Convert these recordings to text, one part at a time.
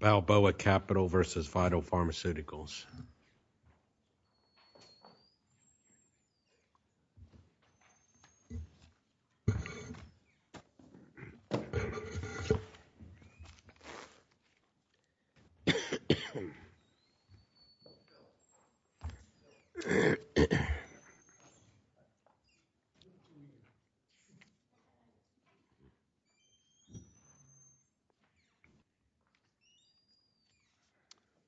Balboa Capital v. Vital Pharmaceuticals.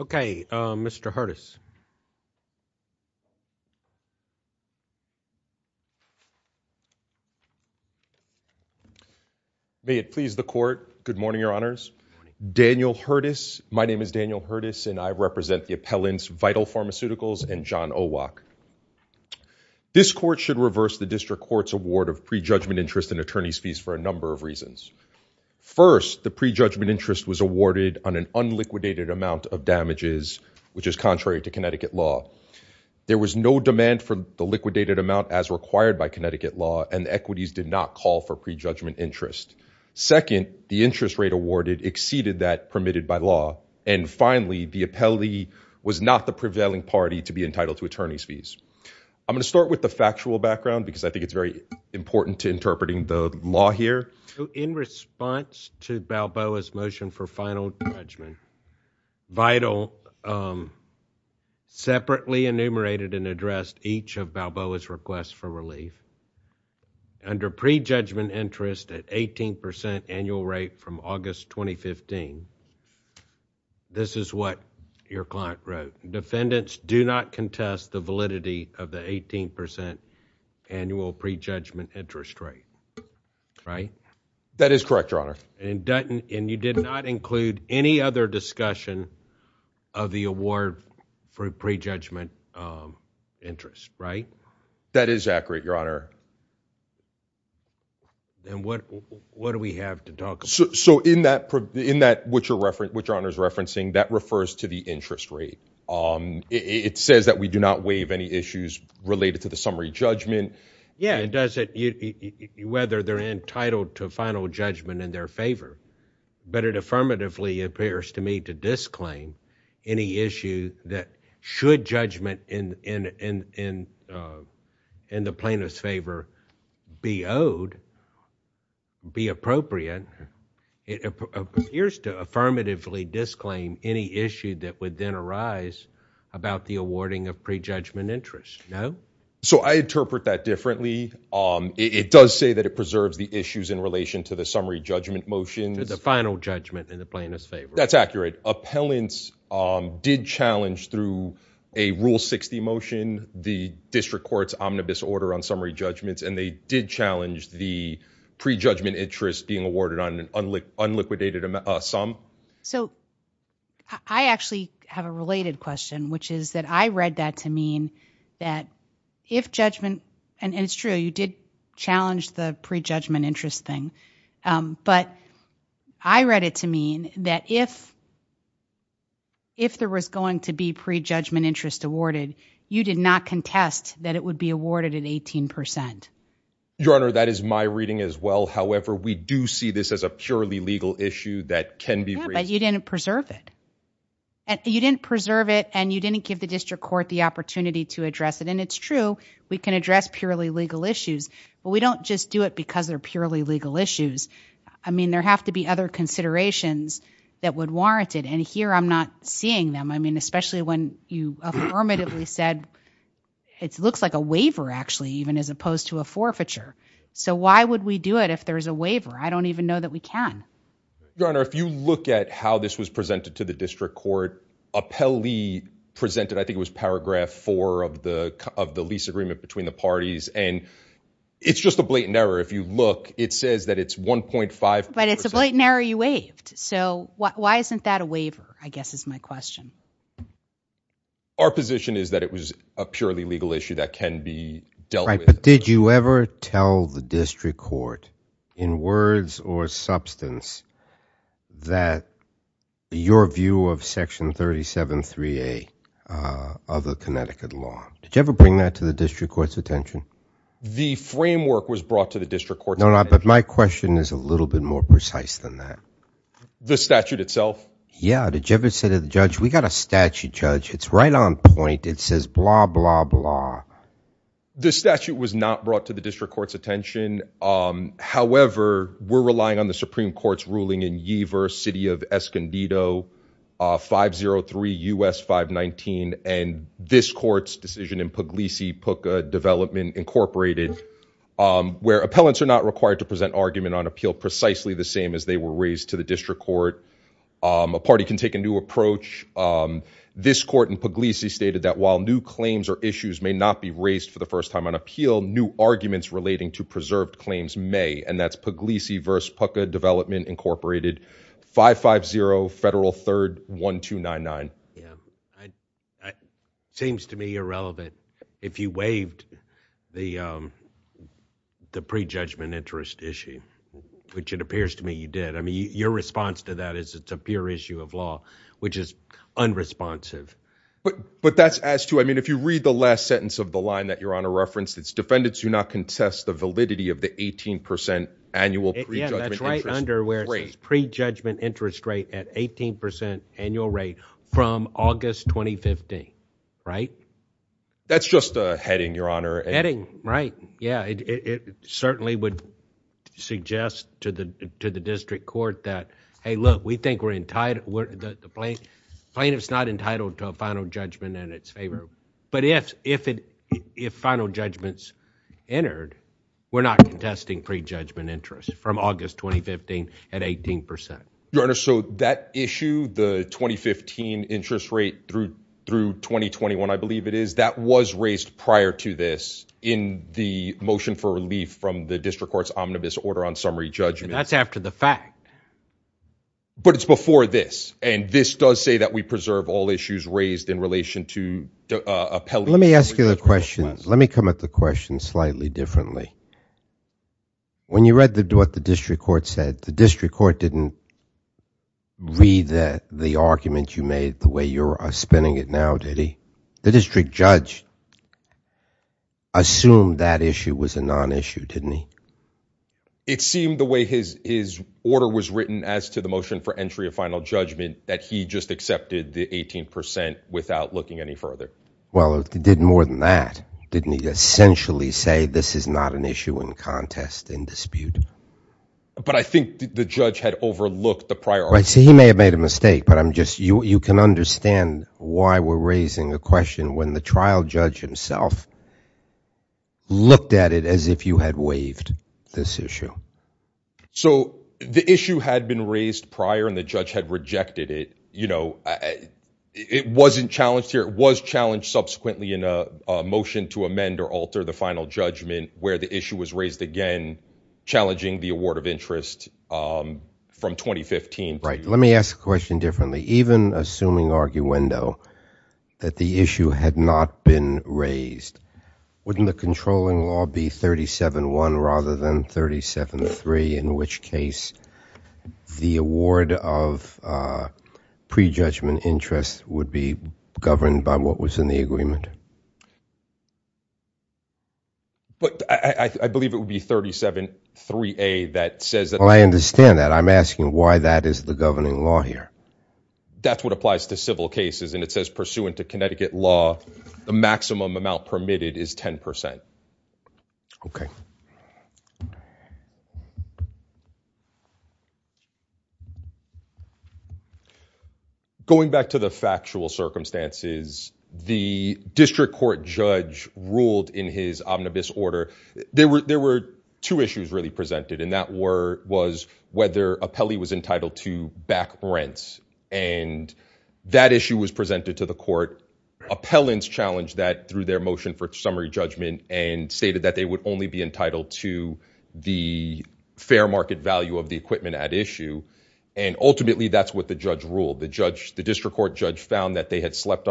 Okay, Mr. Hurtis. May it please the court. Good morning, Your Honors. Daniel Hurtis. My name is Daniel Hurtis, and I represent the appellants Vital Pharmaceuticals and John Owok. This court should reverse the district court's award of prejudgment interest in attorney's fees for a number of reasons. First, the prejudgment interest was awarded on an unliquidated amount of damages, which is contrary to Connecticut law. There was no demand for the liquidated amount as required by Connecticut law, and the equities did not call for prejudgment interest. Second, the interest rate awarded exceeded that permitted by law. And finally, the appellee was not the prevailing party to be entitled to attorney's fees. I'm going to start with the factual background because I think it's very important to interpreting the law here. In response to Balboa's motion for final judgment, Vital separately enumerated and addressed each of Balboa's requests for relief under prejudgment interest at 18% annual rate from August 2015. This is what your client wrote. Defendants do not contest the validity of the 18% annual prejudgment interest rate, right? That is correct, Your Honor. And you did not include any other discussion of the award for prejudgment interest, right? That is accurate, Your Honor. And what do we have to talk about? So in that, what Your Honor is referencing, that refers to the interest rate. It says that we do not waive any issues related to the summary judgment. Yeah, it doesn't, whether they're entitled to final judgment in their favor. But it affirmatively appears to me to disclaim any issue that should judgment in the plaintiff's favor be owed, be appropriate. It appears to affirmatively disclaim any issue that would then arise about the awarding of prejudgment interest. No? So I interpret that differently. It does say that it preserves the issues in relation to the summary judgment motion. The final judgment in the plaintiff's favor. That's accurate. Appellants did challenge through a Rule 60 motion the district court's omnibus order on summary judgments, and they did challenge the prejudgment interest being awarded on an unliquidated sum. So I actually have a related question, which is that I read that to mean that if judgment, and it's true, you did challenge the prejudgment interest thing. But I read it to mean that if. If there was going to be prejudgment interest awarded, you did not contest that it would be awarded at 18 percent. Your Honor, that is my reading as well. However, we do see this as a purely legal issue that can be raised. But you didn't preserve it. You didn't preserve it, and you didn't give the district court the opportunity to address it. And it's true. We can address purely legal issues, but we don't just do it because they're purely legal issues. I mean, there have to be other considerations that would warrant it, and here I'm not seeing them. I mean, especially when you affirmatively said it looks like a waiver, actually, even as opposed to a forfeiture. So why would we do it if there's a waiver? I don't even know that we can. Your Honor, if you look at how this was presented to the district court, Appellee presented, I think it was paragraph four of the lease agreement between the parties. And it's just a blatant error. If you look, it says that it's 1.5 percent. But it's a blatant error you waived. So why isn't that a waiver, I guess is my question. Our position is that it was a purely legal issue that can be dealt with. Right, but did you ever tell the district court in words or substance that your view of section 37-3A of the Connecticut law? Did you ever bring that to the district court's attention? The framework was brought to the district court's attention. No, no, but my question is a little bit more precise than that. The statute itself? Yeah. Did you ever say to the judge, we got a statute, Judge. It's right on point. It says blah, blah, blah. The statute was not brought to the district court's attention. However, we're relying on the Supreme Court's ruling in Yeaver, City of Escondido, 503 U.S. 519. And this court's decision in Puglisi, Pucca Development Incorporated, where appellants are not required to present argument on appeal precisely the same as they were raised to the district court. A party can take a new approach. This court in Puglisi stated that while new claims or issues may not be raised for the first time on appeal, new arguments relating to preserved claims may. And that's Puglisi v. Pucca Development Incorporated, 550 Federal 3rd 1299. Seems to me irrelevant. If you waived the prejudgment interest issue, which it appears to me you did. I mean, your response to that is it's a pure issue of law, which is unresponsive. But that's as to I mean, if you read the last sentence of the line that you're on a reference, it's defendants do not contest the validity of the 18 percent annual. Yeah, that's right under where it says prejudgment interest rate at 18 percent annual rate from August 2015. Right. That's just a heading, Your Honor. Heading. Right. Yeah, it certainly would suggest to the to the district court that, hey, look, we think we're in tight with the plaintiff's not entitled to a final judgment in its favor. But if if it if final judgments entered, we're not contesting prejudgment interest from August 2015 at 18 percent. Your Honor, so that issue, the 2015 interest rate through through 2021, I believe it is that was raised prior to this in the motion for relief from the district court's omnibus order on summary judgment. That's after the fact. But it's before this. And this does say that we preserve all issues raised in relation to appeal. Let me ask you a question. Let me come at the question slightly differently. When you read the what the district court said, the district court didn't read the argument you made the way you're spending it now, did he? The district judge assumed that issue was a nonissue, didn't he? It seemed the way his his order was written as to the motion for entry of final judgment, that he just accepted the 18 percent without looking any further. Well, if he did more than that, didn't he essentially say this is not an issue in contest and dispute? But I think the judge had overlooked the priority. He may have made a mistake, but I'm just you. You can understand why we're raising a question when the trial judge himself. Looked at it as if you had waived this issue. So the issue had been raised prior and the judge had rejected it. You know, it wasn't challenged here. It was challenged subsequently in a motion to amend or alter the final judgment where the issue was raised again. Challenging the award of interest from 2015. Right. Let me ask the question differently. Even assuming arguendo that the issue had not been raised, wouldn't the controlling law be 37 one rather than 37 three, in which case the award of prejudgment interest would be governed by what was in the agreement? But I believe it would be 37 three a that says that I understand that I'm asking why that is the governing law here. That's what applies to civil cases, and it says pursuant to Connecticut law, the maximum amount permitted is 10 percent. OK. Going back to the factual circumstances, the district court judge ruled in his omnibus order. The district court judge found that they had slept on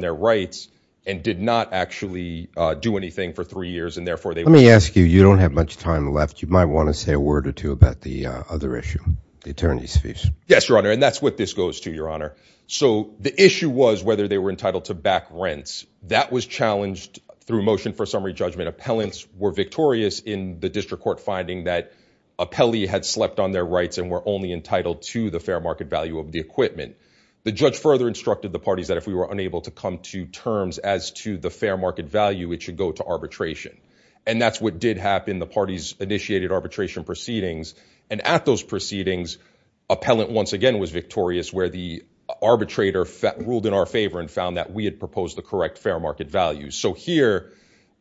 their rights and did not actually do anything for three years, and therefore they. Let me ask you, you don't have much time left. You might want to say a word or two about the other issue. The attorney's fees. Yes, your honor. And that's what this goes to, your honor. So the issue was whether they were entitled to back rents that was challenged through motion for summary judgment. Appellants were victorious in the district court finding that a Pele had slept on their rights and were only entitled to the fair market value of the equipment. The judge further instructed the parties that if we were unable to come to terms as to the fair market value, it should go to arbitration. And that's what did happen. The parties initiated arbitration proceedings. And at those proceedings, appellant once again was victorious, where the arbitrator ruled in our favor and found that we had proposed the correct fair market value. So here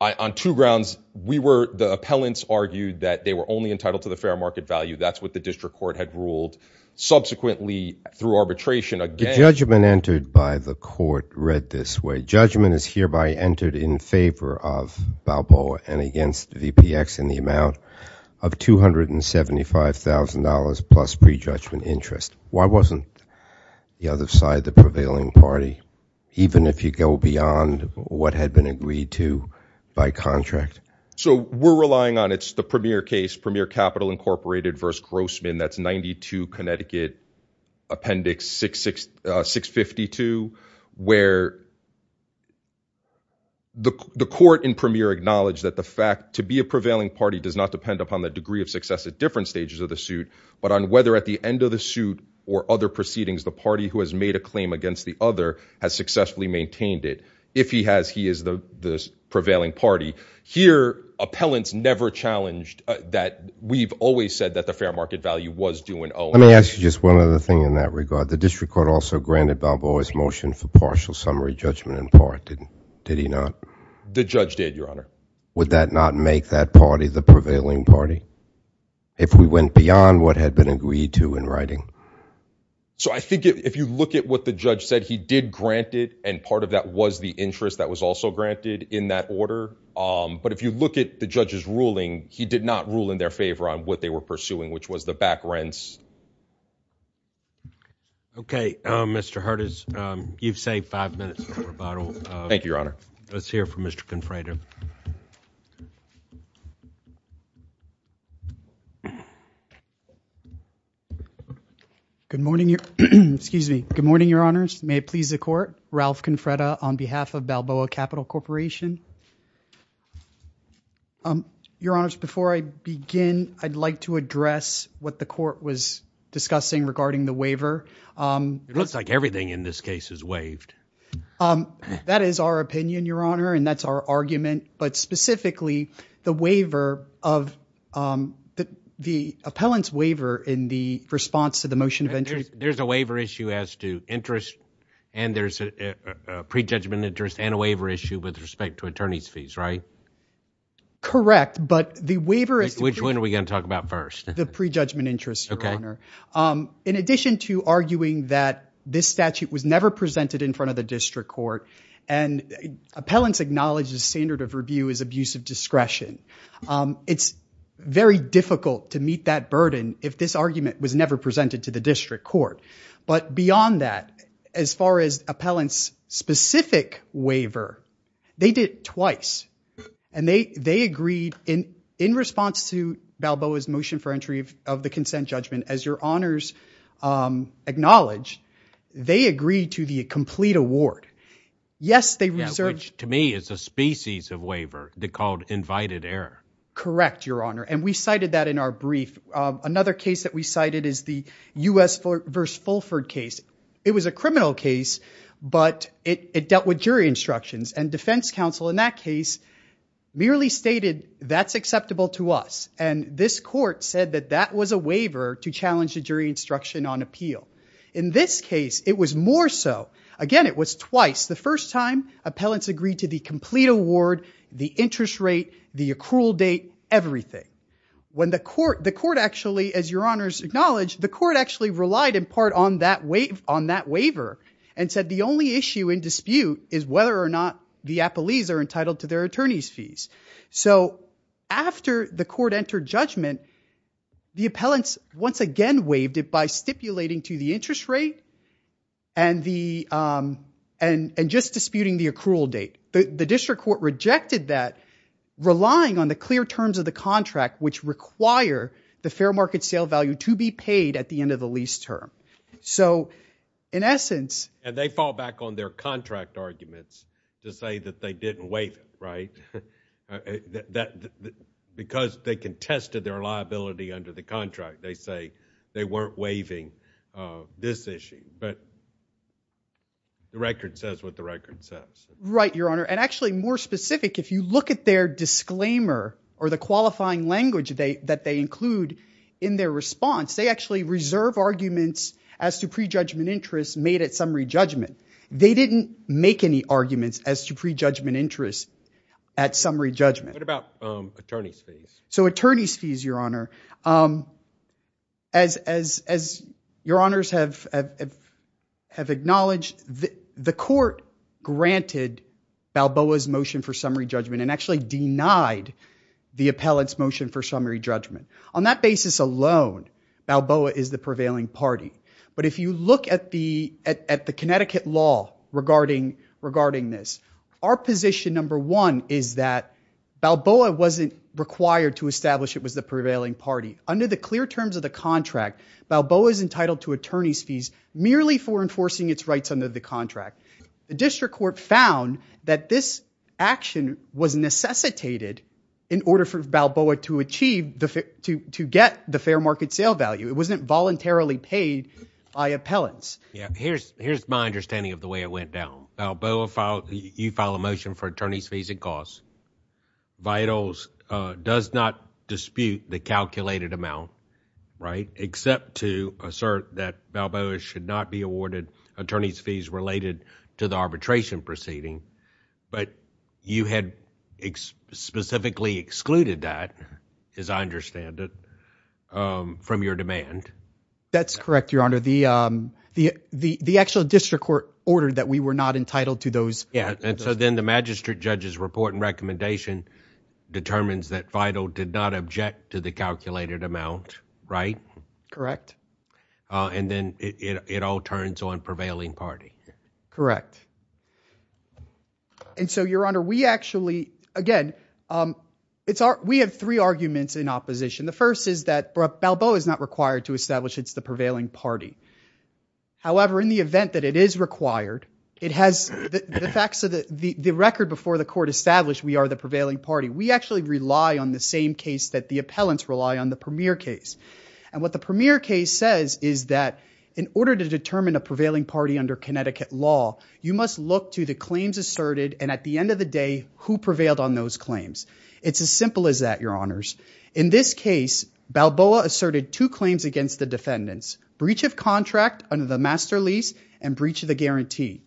on two grounds, we were the appellants argued that they were only entitled to the fair market value. That's what the district court had ruled. Subsequently, through arbitration, a judgment entered by the court read this way. The judgment is hereby entered in favor of Balboa and against VPX in the amount of $275,000 plus prejudgment interest. Why wasn't the other side, the prevailing party, even if you go beyond what had been agreed to by contract? So we're relying on it's the premier case, Premier Capital Incorporated versus Grossman. That's 92 Connecticut Appendix 6, 6, 652, where. The court in premier acknowledged that the fact to be a prevailing party does not depend upon the degree of success at different stages of the suit, but on whether at the end of the suit or other proceedings, the party who has made a claim against the other has successfully maintained it. If he has, he is the prevailing party here. Appellants never challenged that. We've always said that the fair market value was doing. Oh, let me ask you just one other thing in that regard. The district court also granted Balboa's motion for partial summary judgment in part. Did did he not? The judge did, Your Honor. Would that not make that party the prevailing party? If we went beyond what had been agreed to in writing. So I think if you look at what the judge said, he did grant it. And part of that was the interest that was also granted in that order. But if you look at the judge's ruling, he did not rule in their favor on what they were pursuing, which was the back rents. OK, Mr. Hurt is you've saved five minutes. Thank you, Your Honor. Let's hear from Mr. Confrater. Good morning. Excuse me. Good morning, Your Honors. May it please the court. Ralph Confrater on behalf of Balboa Capital Corporation. Your Honors, before I begin, I'd like to address what the court was discussing regarding the waiver. It looks like everything in this case is waived. That is our opinion, Your Honor. And that's our argument. But specifically, the waiver of the appellant's waiver in the response to the motion. There's a waiver issue as to interest and there's a prejudgment interest and a waiver issue with respect to attorney's fees, right? Correct. But the waiver is. Which one are we going to talk about first? The prejudgment interest. In addition to arguing that this statute was never presented in front of the district court and appellants acknowledge the standard of review is abusive discretion. It's very difficult to meet that burden if this argument was never presented to the district court. But beyond that, as far as appellants specific waiver, they did twice and they they agreed in in response to Balboa's motion for entry of the consent judgment. As your honors acknowledge, they agree to the complete award. Yes, they research to me is a species of waiver. They called invited air. Correct, Your Honor. And we cited that in our brief. Another case that we cited is the U.S. versus Fulford case. It was a criminal case, but it dealt with jury instructions and defense counsel in that case merely stated that's acceptable to us. And this court said that that was a waiver to challenge the jury instruction on appeal. In this case, it was more so again, it was twice the first time appellants agreed to the complete award, the interest rate, the accrual date, everything. When the court the court actually, as your honors acknowledge, the court actually relied in part on that wave on that waiver and said the only issue in dispute is whether or not the appellees are entitled to their attorney's fees. So after the court entered judgment, the appellants once again waived it by stipulating to the interest rate. And the and just disputing the accrual date, the district court rejected that relying on the clear terms of the contract, which require the fair market sale value to be paid at the end of the lease term. So in essence. And they fall back on their contract arguments to say that they didn't wait. Right. That because they contested their liability under the contract, they say they weren't waiving this issue. But the record says what the record says. Right, your honor. And actually more specific, if you look at their disclaimer or the qualifying language that they include in their response, they actually reserve arguments as to prejudgment interest made at summary judgment. They didn't make any arguments as to prejudgment interest at summary judgment. What about attorneys fees? So attorneys fees, your honor. As your honors have acknowledged, the court granted Balboa's motion for summary judgment and actually denied the appellant's motion for summary judgment. On that basis alone, Balboa is the prevailing party. But if you look at the at the Connecticut law regarding regarding this, our position number one is that Balboa wasn't required to establish it was the prevailing party under the clear terms of the contract. Balboa is entitled to attorney's fees merely for enforcing its rights under the contract. The district court found that this action was necessitated in order for Balboa to achieve the to to get the fair market sale value. It wasn't voluntarily paid by appellants. Yeah, here's here's my understanding of the way it went down. Balboa filed. You file a motion for attorney's fees and costs. Vitals does not dispute the calculated amount. Right, except to assert that Balboa should not be awarded attorney's fees related to the arbitration proceeding. But you had specifically excluded that, as I understand it, from your demand. That's correct, Your Honor. The the the actual district court ordered that we were not entitled to those. Yeah. And so then the magistrate judge's report and recommendation determines that vital did not object to the calculated amount. Right. Correct. And then it all turns on prevailing party. Correct. And so, Your Honor, we actually again, it's our we have three arguments in opposition. The first is that Balboa is not required to establish it's the prevailing party. However, in the event that it is required, it has the facts of the record before the court established we are the prevailing party. We actually rely on the same case that the appellants rely on the premier case. And what the premier case says is that in order to determine a prevailing party under Connecticut law, you must look to the claims asserted. And at the end of the day, who prevailed on those claims? It's as simple as that, Your Honors. In this case, Balboa asserted two claims against the defendants. Breach of contract under the master lease and breach of the guarantee.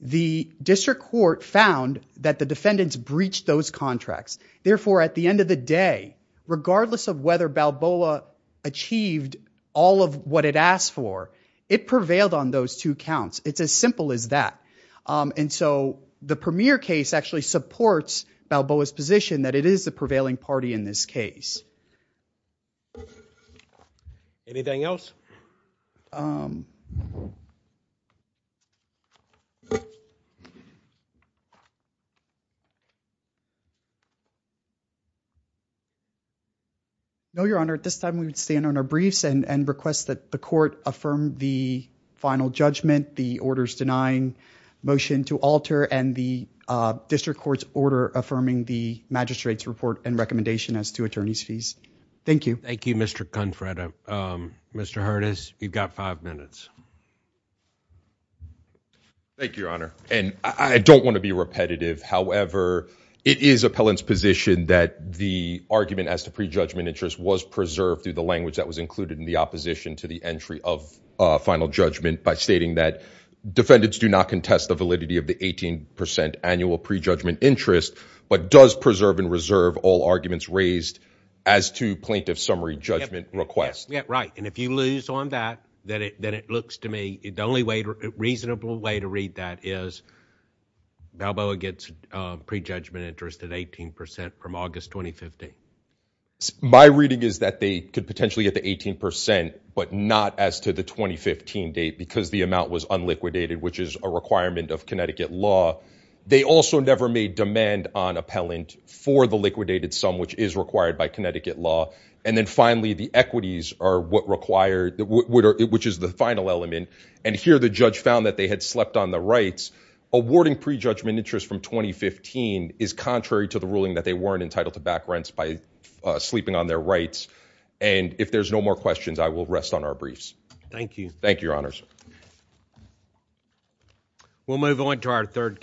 The district court found that the defendants breached those contracts. Therefore, at the end of the day, regardless of whether Balboa achieved all of what it asked for, it prevailed on those two counts. It's as simple as that. And so the premier case actually supports Balboa's position that it is the prevailing party in this case. Anything else? No, Your Honor. At this time, we would stand on our briefs and request that the court affirm the final judgment, the orders denying motion to alter, and the district court's order affirming the magistrate's report and recommendation as to attorney's fees. Thank you. Thank you, Mr. Confredo. Mr. Hurtis, you've got five minutes. Thank you, Your Honor. And I don't want to be repetitive. However, it is appellant's position that the argument as to prejudgment interest was preserved through the language that was included in the opposition to the entry of final judgment by stating that defendants do not contest the validity of the 18 percent annual prejudgment interest, but does preserve and reserve all arguments raised as to plaintiff's summary judgment request. Right. And if you lose on that, then it looks to me the only reasonable way to read that is Balboa gets prejudgment interest at 18 percent from August 2015. My reading is that they could potentially get the 18 percent, but not as to the 2015 date because the amount was unliquidated, which is a requirement of Connecticut law. They also never made demand on appellant for the liquidated sum, which is required by Connecticut law. And then finally, the equities are what required which is the final element. And here the judge found that they had slept on the rights awarding prejudgment interest from 2015 is contrary to the ruling that they weren't entitled to back rents by sleeping on their rights. And if there's no more questions, I will rest on our briefs. Thank you. Thank you, Your Honors. We'll move on to our third.